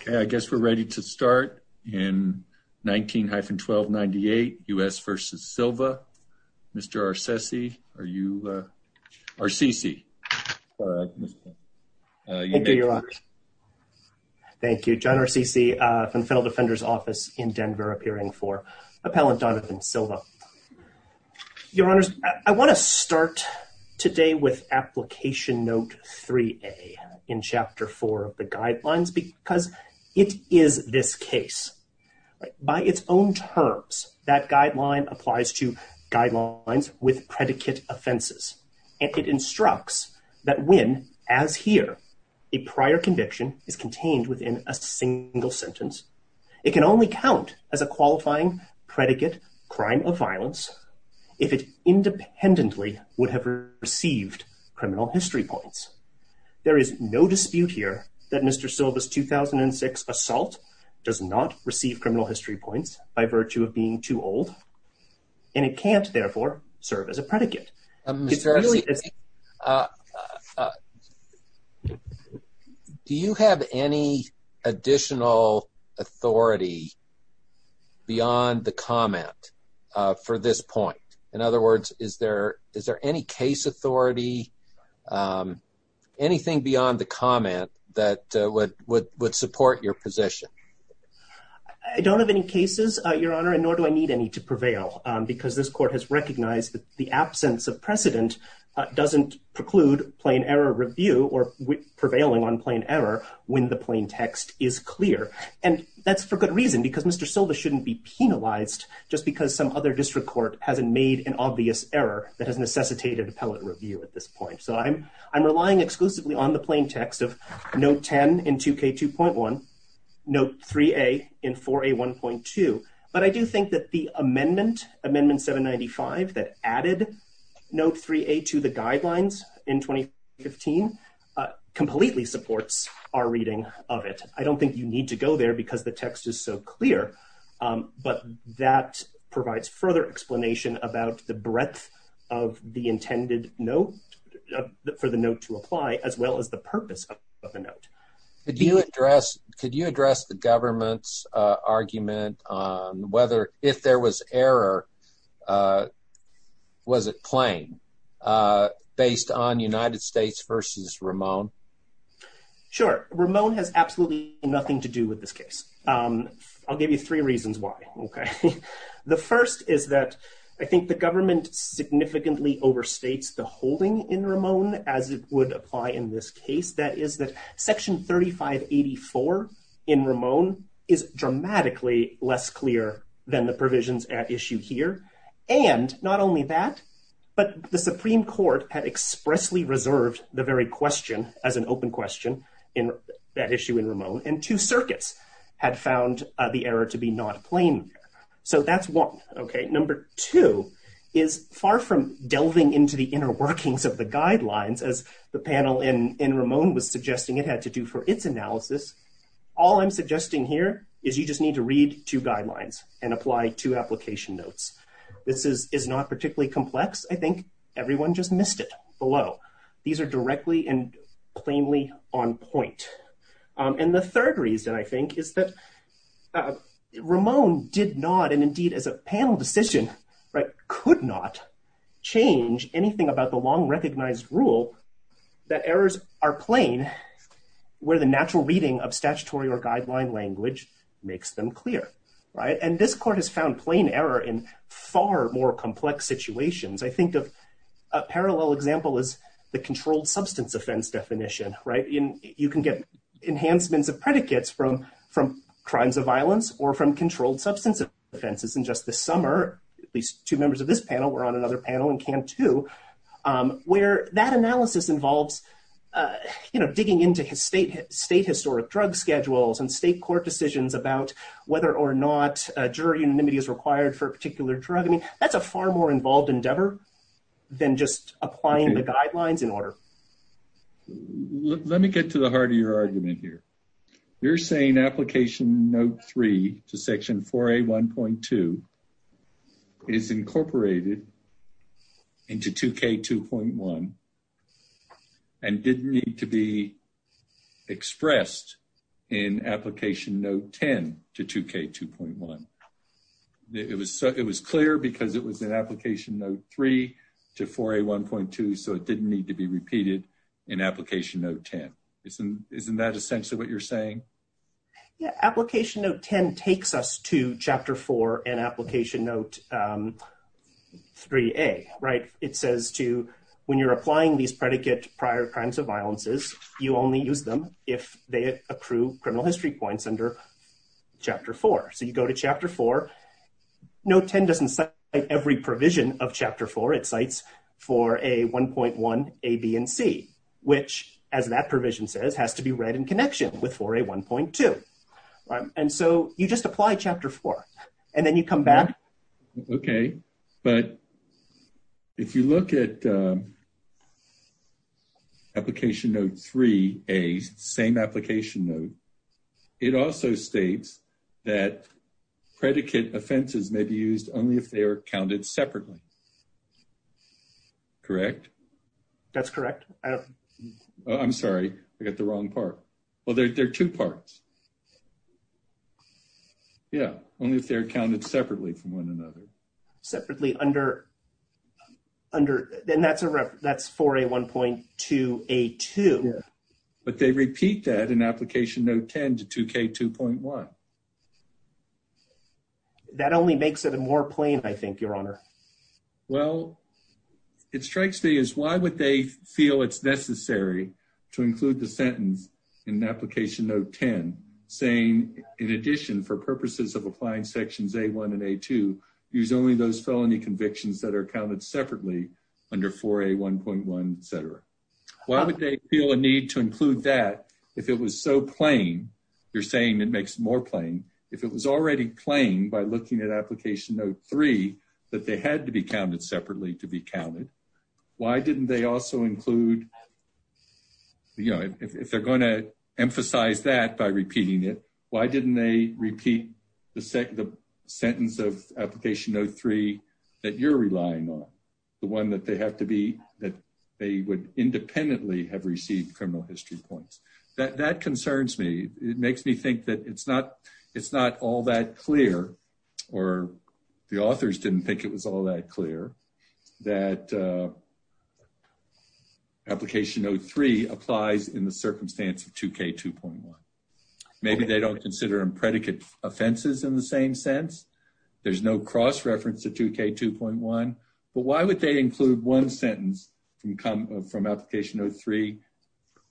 Okay, I guess we're ready to start in 19-1298 U.S. v. Silva. Mr. Arcesi, are you, uh, Arcesi. Thank you, John Arcesi, uh, from the Federal Defender's Office in Denver appearing for Appellant Donovan Silva. Your Honors, I want to start today with Application Note 3a in Chapter 4 of the Guidelines because it is this case. By its own terms, that guideline applies to guidelines with predicate offenses, and it instructs that when, as here, a prior conviction is contained within a single sentence, it can only count as a qualifying predicate crime of violence if it independently would have received criminal history points. There is no dispute here that Mr. Silva's 2006 assault does not receive criminal history points by virtue of being too old, and it can't therefore serve as a predicate. Mr. Arcesi, do you have any additional authority beyond the comment, uh, for this point? In other words, is there, is there any case authority, um, anything beyond the comment that would, would support your position? I don't have any cases, uh, Your Honor, and nor do I need any to prevail, um, because this Court has recognized that the absence of precedent, uh, doesn't preclude plain error review or prevailing on plain error when the plain text is clear. And that's for good reason, because Mr. Silva shouldn't be penalized just because some other district court hasn't made an obvious error that has necessitated appellate review at this point. So I'm, I'm relying exclusively on the plain text of Note 10 in 2K2.1, Note 3a in 4A1.2, but I do think that the amendment, Amendment 795, that added Note 3a to the guidelines in 2015, uh, completely supports our reading of it. I don't think you need to go there because the text is so clear, um, but that provides further explanation about the breadth of the intended note, for the note to apply, as well as the purpose of a note. Could you address, could you address the government's, uh, argument on whether if there was error, uh, was it plain, uh, based on United States versus Ramon? Sure. Ramon has absolutely nothing to do with this case. Um, I'll give you three reasons why. Okay. The first is that I think the government significantly overstates the holding in Ramon as it would apply in this case. That is that Section 3584 in Ramon is dramatically less clear than the provisions at issue here. And not only that, but the Supreme Court had expressly reserved the very question as an open question in that issue in Ramon and two circuits had found the error to be not plain. So that's one. Okay. Number two is far from delving into the inner workings of the guidelines as the panel in, Ramon was suggesting it had to do for its analysis. All I'm suggesting here is you just need to read two guidelines and apply two application notes. This is, is not particularly complex. I think everyone just missed it below. These are directly and plainly on point. Um, and the third reason I think is that Ramon did not, and indeed as a panel decision, right, could not change anything about the long recognized rule that errors are plain, where the natural reading of statutory or guideline language makes them clear, right? And this court has found plain error in far more complex situations. I think of a parallel example is the controlled substance offense definition, right? In, you can get enhancements of predicates from, from crimes of violence or from controlled substance offenses. And just this summer, at least two members of this panel were on another panel and can too, um, where that analysis involves, uh, you know, digging into his state, state historic drug schedules and state court decisions about whether or not a jury anonymity is required for a particular drug. I mean, that's a far more involved endeavor than just applying the guidelines in order. Let me get to the heart of your argument here. You're saying application note three to section 4A1.2 is incorporated into 2K2.1 and didn't need to be expressed in application note 10 to 2K2.1. It was, it was clear because it was an application note three to 4A1.2, so it didn't need to be repeated in application note 10. Isn't, isn't that essentially what you're saying? Yeah. Application note 10 takes us to chapter four and application note, um, 3A, right? It says to, when you're applying these predicate prior crimes of violences, you only use them if they accrue criminal history points under chapter four. So you go to chapter four. Note 10 doesn't cite every provision of chapter four. It cites 4A1.1, A, B, and C, which as that provision says has to be read in connection with 4A1.2, right? And so you just apply chapter four and then you come back. Okay. But if you look at, um, application note 3A, same application note, it also states that predicate offenses may be used only if they are counted separately. Correct? That's correct. I'm sorry. I got the wrong part. Well, there are two parts. Yeah. Only if they're counted separately from one another. Separately under, under, and that's a ref, that's 4A1.2, A2. But they repeat that in application note 10 to 2K2.1. That only makes it more plain, I think, your honor. Well, it strikes me as why would they feel it's necessary to include the sentence in application note 10 saying in addition for felony convictions that are counted separately under 4A1.1, et cetera. Why would they feel a need to include that if it was so plain? You're saying it makes it more plain. If it was already plain by looking at application note three, that they had to be counted separately to be counted. Why didn't they also include, you know, if they're going to emphasize that by repeating it, why didn't they repeat the sentence of application note three that you're relying on? The one that they have to be, that they would independently have received criminal history points. That concerns me. It makes me think that it's not, it's not all that clear or the authors didn't think it was all that clear that application note three applies in the circumstance of 2K2.1. Maybe they don't consider them predicate offenses in the same sense. There's no cross-reference to 2K2.1, but why would they include one sentence from application note three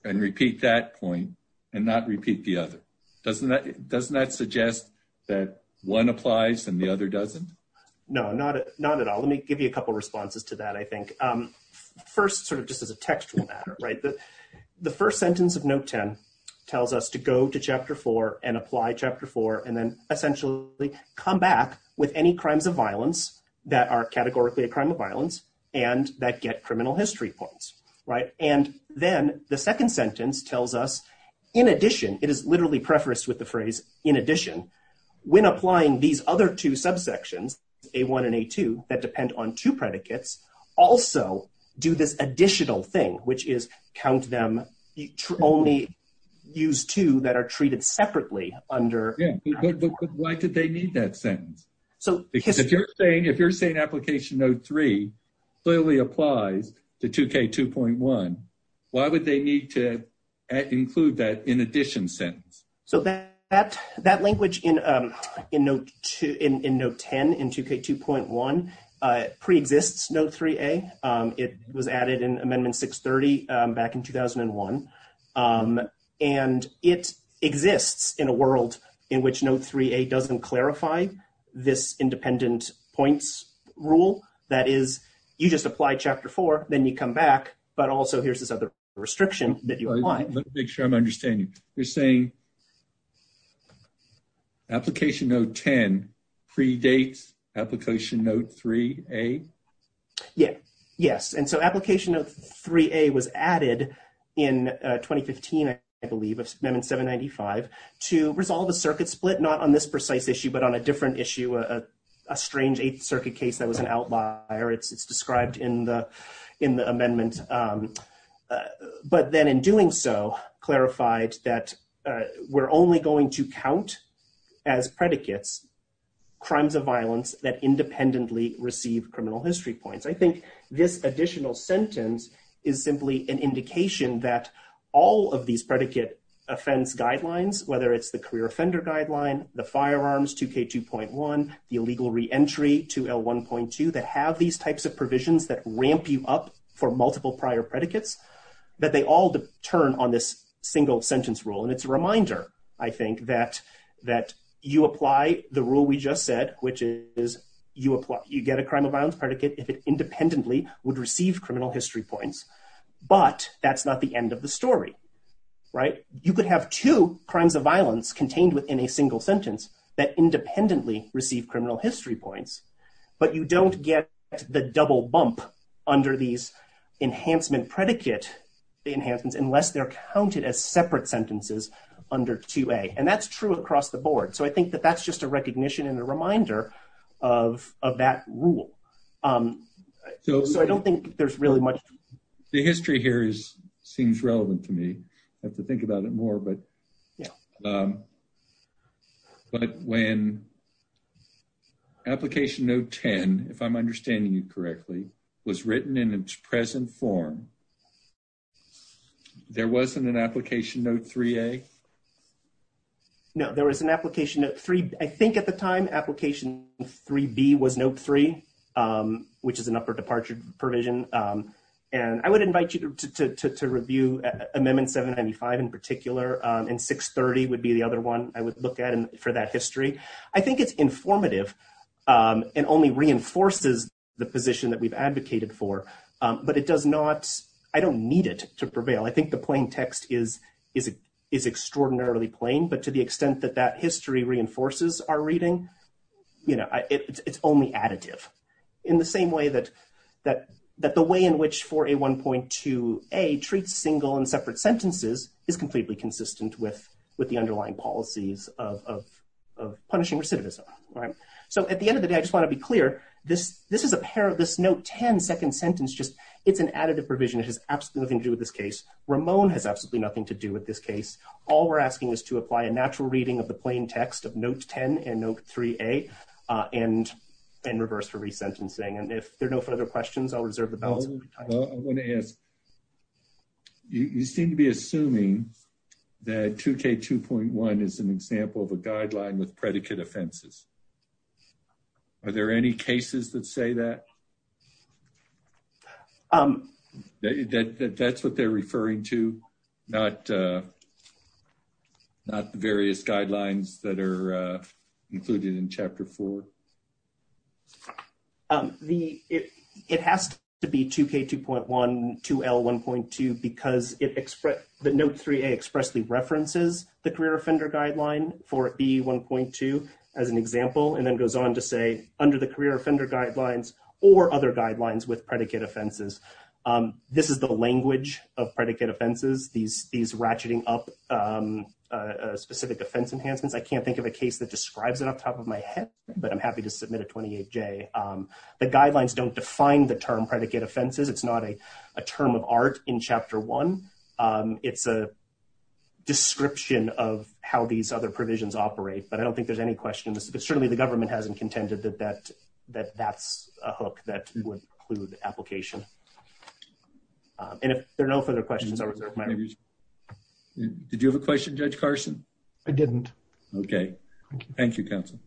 and repeat that point and not repeat the other? Doesn't that suggest that one applies and the other doesn't? No, not at all. Let me give you a couple responses to that, I think. First, sort of just as a contextual matter, right, the first sentence of note 10 tells us to go to chapter 4 and apply chapter 4 and then essentially come back with any crimes of violence that are categorically a crime of violence and that get criminal history points, right? And then the second sentence tells us, in addition, it is literally prefaced with the phrase, in addition, when applying these other two subsections, A1 and A2 predicates also do this additional thing, which is count them, only use two that are treated separately under. Yeah, but why did they need that sentence? Because if you're saying application note three clearly applies to 2K2.1, why would they need to include that in addition sentence? So that language in note 10, in 2K2.1, pre-exists note 3A. It was added in amendment 630 back in 2001, and it exists in a world in which note 3A doesn't clarify this independent points rule. That is, you just apply chapter 4, then you come back, but also here's this other restriction that you apply. Let me make sure I'm understanding. You're saying application note 10 predates application note 3A? Yeah, yes, and so application of 3A was added in 2015, I believe, of amendment 795, to resolve a circuit split, not on this precise issue, but on a different issue, a strange eighth circuit case that was an outlier. It's described in the amendment, but then in doing so, clarified that we're only going to count as predicates crimes of violence that independently receive criminal history points. I think this additional sentence is simply an indication that all of these predicate offense guidelines, whether it's the career offender guideline, the firearms 2K2.1, the illegal re-entry 2L1.2, that have these types of provisions that ramp you up for multiple prior predicates, that they all turn on this single sentence rule, and it's a reminder, I think, that you apply the rule we just said, which is you get a crime of violence predicate if it independently would receive criminal history points, but that's not the end of the story, right? You could have two crimes of violence contained within a single sentence that independently receive criminal history points, but you don't get the double bump under these enhancement predicate enhancements, unless they're counted as separate sentences under 2A, and that's true across the board. So I think that that's just a recognition and a reminder of that rule. So I don't think there's really much... The history here seems relevant to me. I have to think about it more, but when Application Note 10, if I'm understanding you correctly, was written in its present form, there wasn't an Application Note 3A? No, there was an Application Note 3... I think at the time Application 3B was Note 3, which is an upper departure provision, and I would invite you to the other one I would look at for that history. I think it's informative and only reinforces the position that we've advocated for, but it does not... I don't need it to prevail. I think the plain text is extraordinarily plain, but to the extent that that history reinforces our reading, you know, it's only additive. In the same way that the way in which 4A1.2A treats single and separate sentences is completely consistent with the underlying policies of punishing recidivism. So at the end of the day, I just want to be clear, this is a pair of this Note 10 second sentence. It's an additive provision. It has absolutely nothing to do with this case. Ramon has absolutely nothing to do with this case. All we're asking is to apply a natural reading of the plain text of Note 10 and Note 3A and reverse for resentencing, and if there are no further questions, I'll reserve the balance of time. I want to ask, you seem to be assuming that 2K2.1 is an example of a guideline with predicate offenses. Are there any cases that say that? That's what they're referring to, not the various guidelines that are included in Chapter 4. It has to be 2K2.1, 2L1.2 because the Note 3A expressly references the career offender guideline for B1.2 as an example, and then goes on to say under the career offender guidelines or other guidelines with predicate offenses. This is the language of predicate offenses. These ratcheting up specific offense enhancements, I can't think of a case that describes it off top of my head, but I'm happy to submit a 28J. The guidelines don't define the term predicate offenses. It's not a term of art in Chapter 1. It's a description of how these other provisions operate, but I don't think there's any question in this, but certainly the government hasn't contended that that's a hook that would include application, and if there are no further questions, I would recommend. Did you have a question, Judge Carson? I didn't. Okay, thank you, counsel.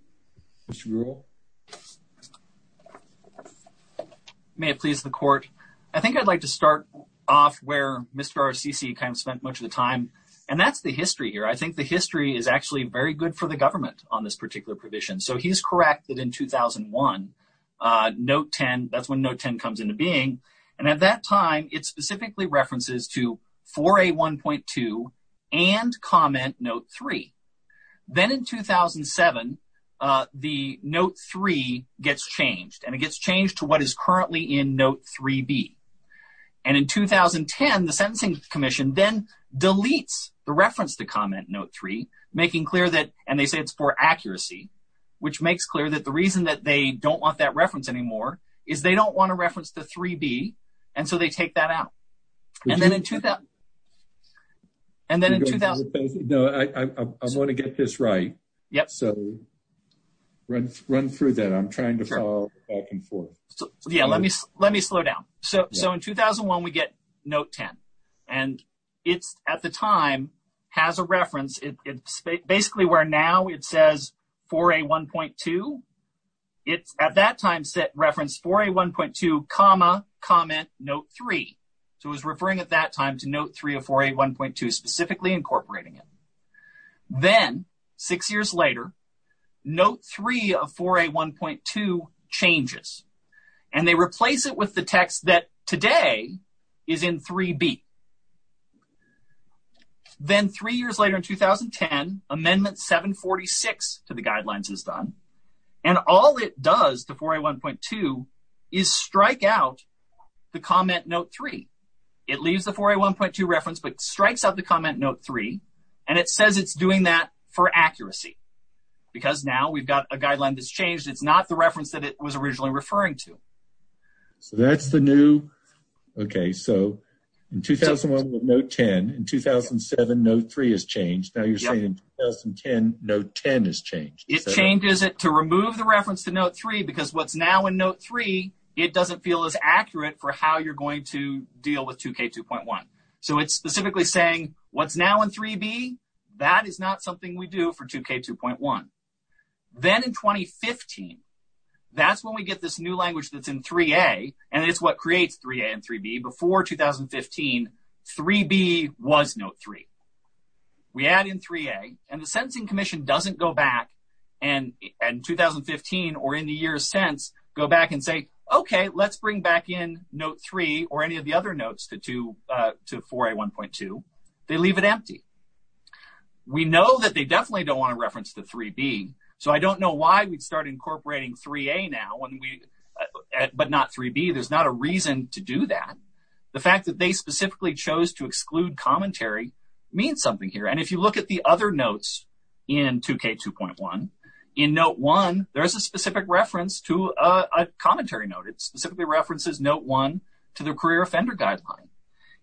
May it please the court. I think I'd like to start off where Mr. RCC kind of spent much of the time, and that's the history here. I think the history is actually very good for the government on this particular provision, so he's correct that in 2001, Note 10, that's when Note 10 comes into being, and at that time, it specifically references to 4A1.2 and Comment Note 3. Then in 2007, the Note 3 gets changed, and it gets changed to what is currently in Note 3B, and in 2010, the Sentencing Commission then deletes the reference to Comment Note 3, making clear that, and they say it's for accuracy, which makes clear that the reason that they don't want that reference anymore is they don't want to reference the 3B, and so they take that out, and then in 2000, and then in 2000. No, I want to get this right, so run through that. I'm trying to follow back and forth. Yeah, let me slow down. So in 2001, we get Note 10, and it's at the time has a reference. It's basically where now it says 4A1.2. It's at that time reference 4A1.2, Comment Note 3, so it was referring at that time to Note 3 of 4A1.2, specifically incorporating it. Then six years later, Note 3 of 4A1.2 changes, and they replace it with the text that today is in 3B. Then three years later, in 2010, Amendment 746 to the guidelines is done, and all it does to 4A1.2 is strike out the Comment Note 3. It leaves the 4A1.2 reference, but strikes out the Comment Note 3, and it says it's doing that for accuracy, because now we've got a guideline that's changed. It's not the reference that it was originally referring to. So that's the new, okay, so in 2001, Note 10. In 2007, Note 3 has changed. Now you're saying in 2010, Note 10 has changed. It changes it to remove the reference to Note 3, because what's now in Note 3, it doesn't feel as accurate for how you're going to deal with 2K2.1. So it's specifically saying what's now in 3B, that is not something we do for 2K2.1. Then in 2015, that's when we get this language that's in 3A, and it's what creates 3A and 3B. Before 2015, 3B was Note 3. We add in 3A, and the Sentencing Commission doesn't go back in 2015, or in the years since, go back and say, okay, let's bring back in Note 3, or any of the other notes to 4A1.2. They leave it empty. We know that they definitely don't want to reference the 3B, so I don't know why we'd incorporate 3A now, but not 3B. There's not a reason to do that. The fact that they specifically chose to exclude commentary means something here, and if you look at the other notes in 2K2.1, in Note 1, there's a specific reference to a commentary note. It specifically references Note 1 to the Career Offender Guideline.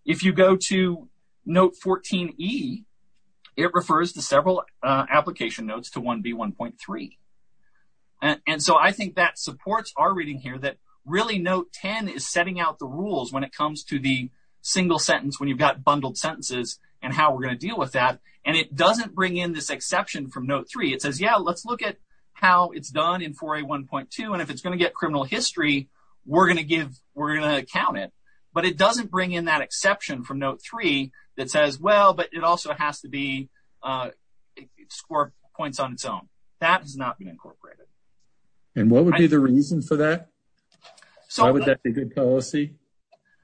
If you go to Note 14E, it refers to several application notes to 1B1.3, and so I think that supports our reading here that really Note 10 is setting out the rules when it comes to the single sentence, when you've got bundled sentences, and how we're going to deal with that, and it doesn't bring in this exception from Note 3. It says, yeah, let's look at how it's done in 4A1.2, and if it's going to get criminal history, we're going to give, we're going to count it, but it doesn't bring in that exception from Note 3 that says, well, but it has to be score points on its own. That has not been incorporated. And what would be the reason for that? Why would that be good policy?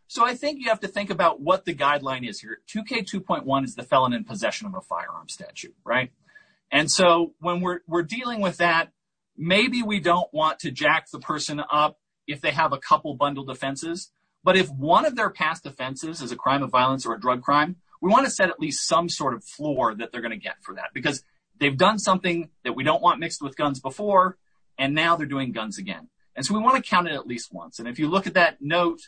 So I think you have to think about what the guideline is here. 2K2.1 is the felon in possession of a firearm statute, right? And so when we're dealing with that, maybe we don't want to jack the person up if they have a couple bundled offenses, but if one of their past offenses is a crime of violence or a drug crime, we want to set at least some sort of floor that they're going to get for that, because they've done something that we don't want mixed with guns before, and now they're doing guns again. And so we want to count it at least once. And if you look at that note,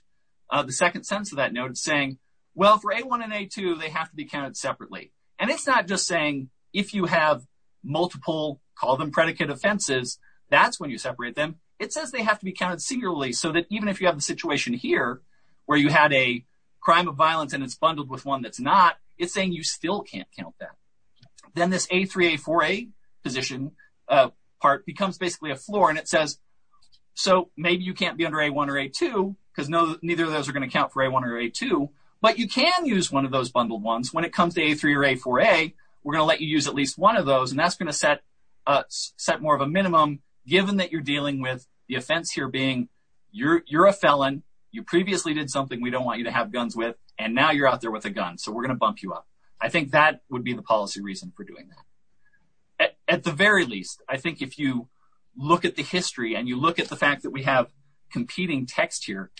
the second sentence of that note, it's saying, well, for A1 and A2, they have to be counted separately. And it's not just saying, if you have multiple, call them predicate offenses, that's when you separate them. It says they have to be counted so that even if you have the situation here where you had a crime of violence and it's bundled with one that's not, it's saying you still can't count that. Then this A3, A4, A position part becomes basically a floor, and it says, so maybe you can't be under A1 or A2, because neither of those are going to count for A1 or A2, but you can use one of those bundled ones. When it comes to A3 or A4A, we're going to let you use at least one of those, and that's going to set more of a minimum, given that you're dealing with the offense here being you're a felon, you previously did something we don't want you to have guns with, and now you're out there with a gun, so we're going to bump you up. I think that would be the policy reason for doing that. At the very least, I think if you look at the history and you look at the fact that we have competing text here,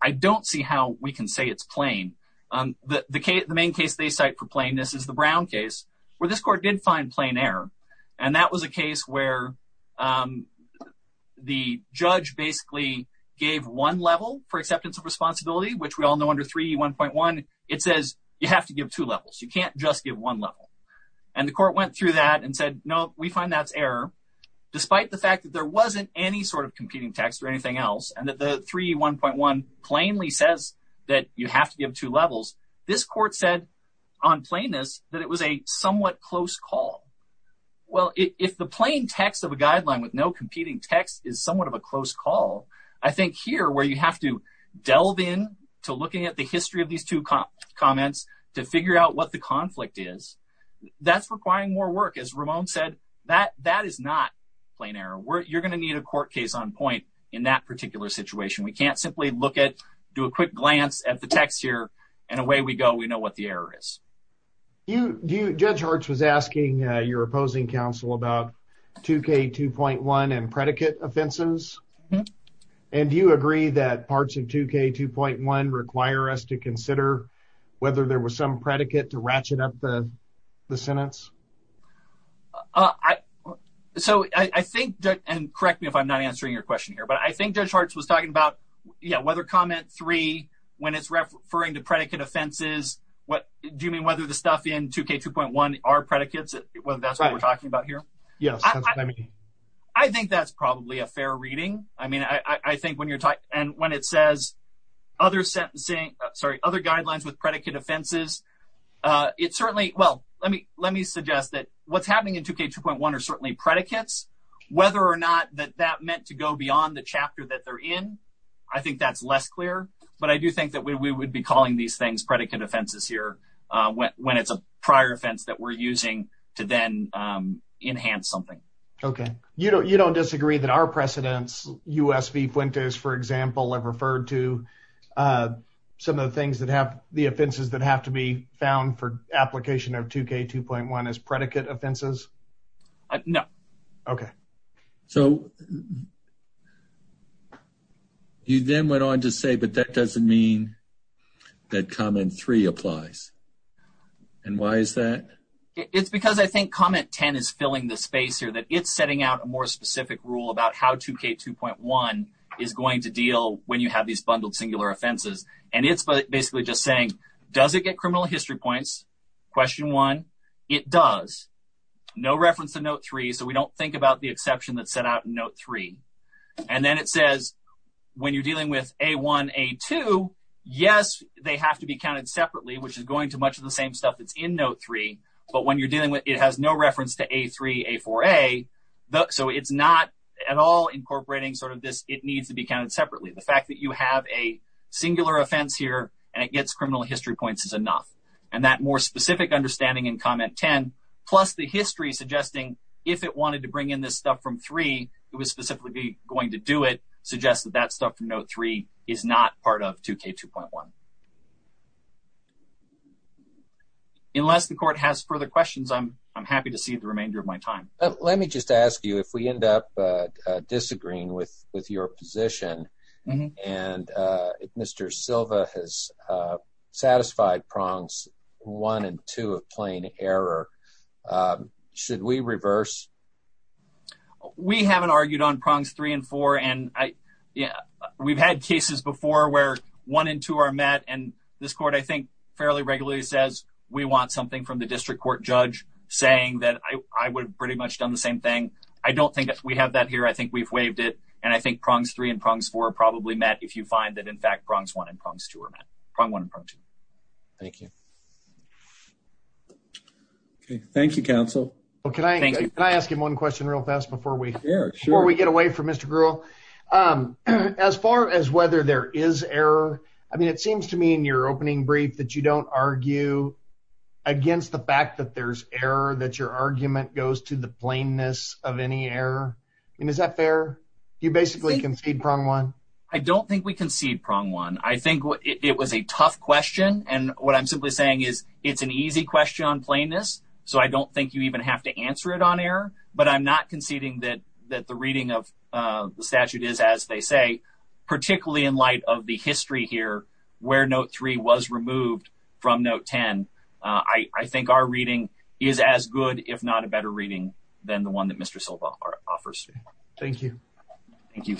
I don't see how we can say it's plain. The main case they cite for plainness is the Brown case, where this court did find plain error, and that was a case where the judge basically gave one level for acceptance of responsibility, which we all know under 3E1.1, it says you have to give two levels, you can't just give one level, and the court went through that and said, no, we find that's error, despite the fact that there wasn't any sort of competing text or anything else, and that the 3E1.1 plainly that you have to give two levels, this court said on plainness that it was a somewhat close call. Well, if the plain text of a guideline with no competing text is somewhat of a close call, I think here, where you have to delve in to looking at the history of these two comments to figure out what the conflict is, that's requiring more work. As Ramon said, that is not plain error. You're going to need a court case on point in that particular situation. We can't do a quick glance at the text here, and away we go, we know what the error is. Judge Hartz was asking your opposing counsel about 2K2.1 and predicate offenses, and do you agree that parts of 2K2.1 require us to consider whether there was some predicate to ratchet up the sentence? Correct me if I'm not answering your question here, but I think Judge Hartz was talking about whether comment three, when it's referring to predicate offenses, do you mean whether the stuff in 2K2.1 are predicates, whether that's what we're talking about here? I think that's probably a fair reading. I mean, I think when you're talking, and when it says other sentencing, sorry, other guidelines with predicate offenses, it certainly, well, let me suggest that what's happening in 2K2.1 are certainly predicates, whether or not that that meant to go beyond the chapter that they're in, I think that's less clear, but I do think that we would be calling these things predicate offenses here when it's a prior offense that we're using to then enhance something. Okay. You don't disagree that our precedents, US v. Fuentes, for example, have referred to some of the offenses that have to be found for application of 2K2.1 as predicate offenses? No. Okay. So, you then went on to say, but that doesn't mean that comment three applies. And why is that? It's because I think comment 10 is filling the space here, that it's setting out a more specific rule about how 2K2.1 is going to deal when you have these bundled singular offenses. And it's basically just saying, does it get criminal history points? Question one, it does, no reference to note three. So, we don't think about the exception that's set out in note three. And then it says, when you're dealing with A1, A2, yes, they have to be counted separately, which is going to much of the same stuff that's in note three, but when you're dealing with, it has no reference to A3, A4a. So, it's not at all incorporating sort of this, it needs to be counted separately. The fact that you have a singular offense here, and it gets criminal history points is enough. And that more specific understanding in comment 10, plus the history suggesting, if it wanted to bring in this stuff from three, it was specifically going to do it, suggests that that stuff from note three is not part of 2K2.1. Unless the court has further questions, I'm happy to see the remainder of my time. Let me just ask you, if we end up disagreeing with your position, and Mr. Silva has satisfied prongs one and two of plain error, should we reverse? We haven't argued on prongs three and four, and we've had cases before where one and two are met, and this court, I think, fairly regularly says, we want something from the district court judge saying that I would pretty much done the same thing. I don't think we have that here. I think we've waived it, and I think prongs three and prongs four are probably met if you find that, in fact, prongs one and prongs two are met, prong one and prong two. Thank you. Okay, thank you, counsel. Can I ask you one question real fast before we get away from Mr. Grewal? As far as whether there is error, I mean, it seems to me in your opening brief that you don't argue against the fact that there's error, that your argument goes to the plainness of any error, and is that fair? You basically concede prong one. I don't think we concede prong one. I think it was a tough question, and what I'm simply saying is, it's an easy question on plainness, so I don't think you even have to answer it on error, but I'm not conceding that the reading of the statute is, as they say, particularly in light of the history here where note three was removed from note 10. I think our reading is as good, if not a better reading, than the one that Mr. Silva offers. Thank you. Thank you.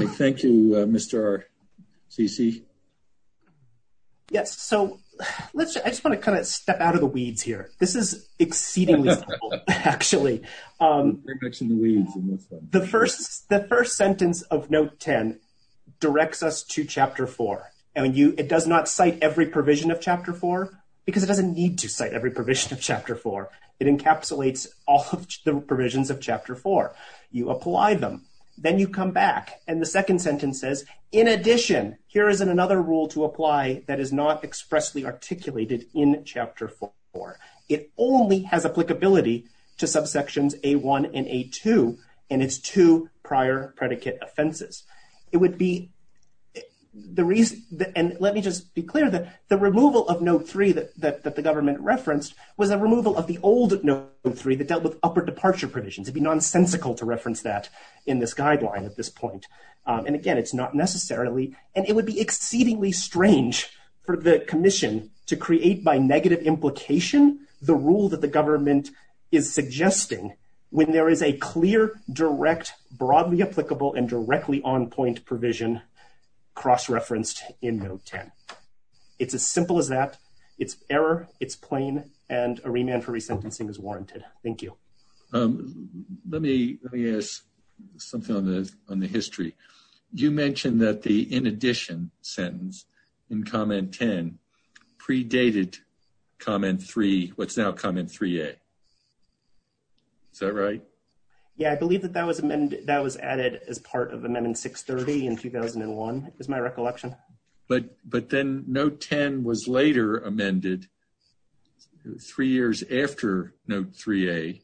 Okay, thank you, Mr. Cici. Yes, so let's, I just want to kind of step out of the weeds here. This is exceedingly simple, actually. The first sentence of note 10 directs us to chapter 4, and it does not cite every provision of chapter 4, because it doesn't need to cite every provision of chapter 4. It encapsulates all of the provisions of chapter 4. You apply them, then you come back, and the second sentence says, in addition, here is another rule to apply that is not expressly articulated in chapter 4. It only has applicability to subsections A1 and A2 and its two prior predicate offenses. It would be the reason, and let me just be clear, that the removal of note three that the government referenced was a removal of the old note three that dealt with upper departure provisions. It'd be nonsensical to reference that in this guideline at this point, and again, it's not necessarily, and it would be exceedingly strange for the commission to create by negative implication the rule that the government is suggesting when there is a clear, direct, broadly applicable, and directly on-point provision cross-referenced in note 10. It's as simple as that. It's error, it's plain, and a remand for on the history. You mentioned that the in addition sentence in comment 10 predated comment three, what's now comment 3A. Is that right? Yeah, I believe that that was added as part of amendment 630 in 2001, is my recollection. But then note 10 was later amended three years after note 3A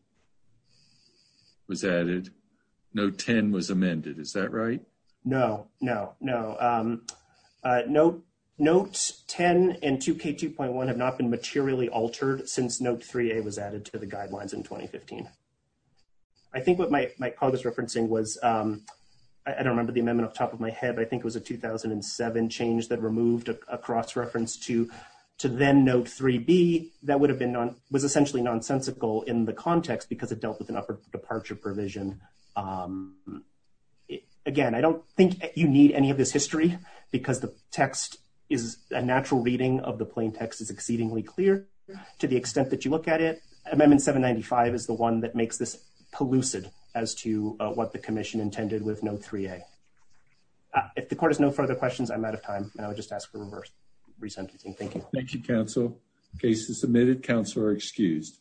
was added. Note 10 was amended, is that right? No, no, no. Note 10 and 2K2.1 have not been materially altered since note 3A was added to the guidelines in 2015. I think what Mike probably was referencing was, I don't remember the amendment off the top of my head, but I think it was a 2007 change that removed a cross-reference to then note 3B that would have been on was essentially nonsensical in the context because it dealt with an upper departure provision. Again, I don't think you need any of this history because the text is a natural reading of the plain text is exceedingly clear to the extent that you look at it. Amendment 795 is the one that makes this pellucid as to what the commission intended with note 3A. If the court has no further questions, I'm out of time and I would just ask for reverse resentencing. Thank you. Thank you, counsel. Case is submitted. Counsel are excused.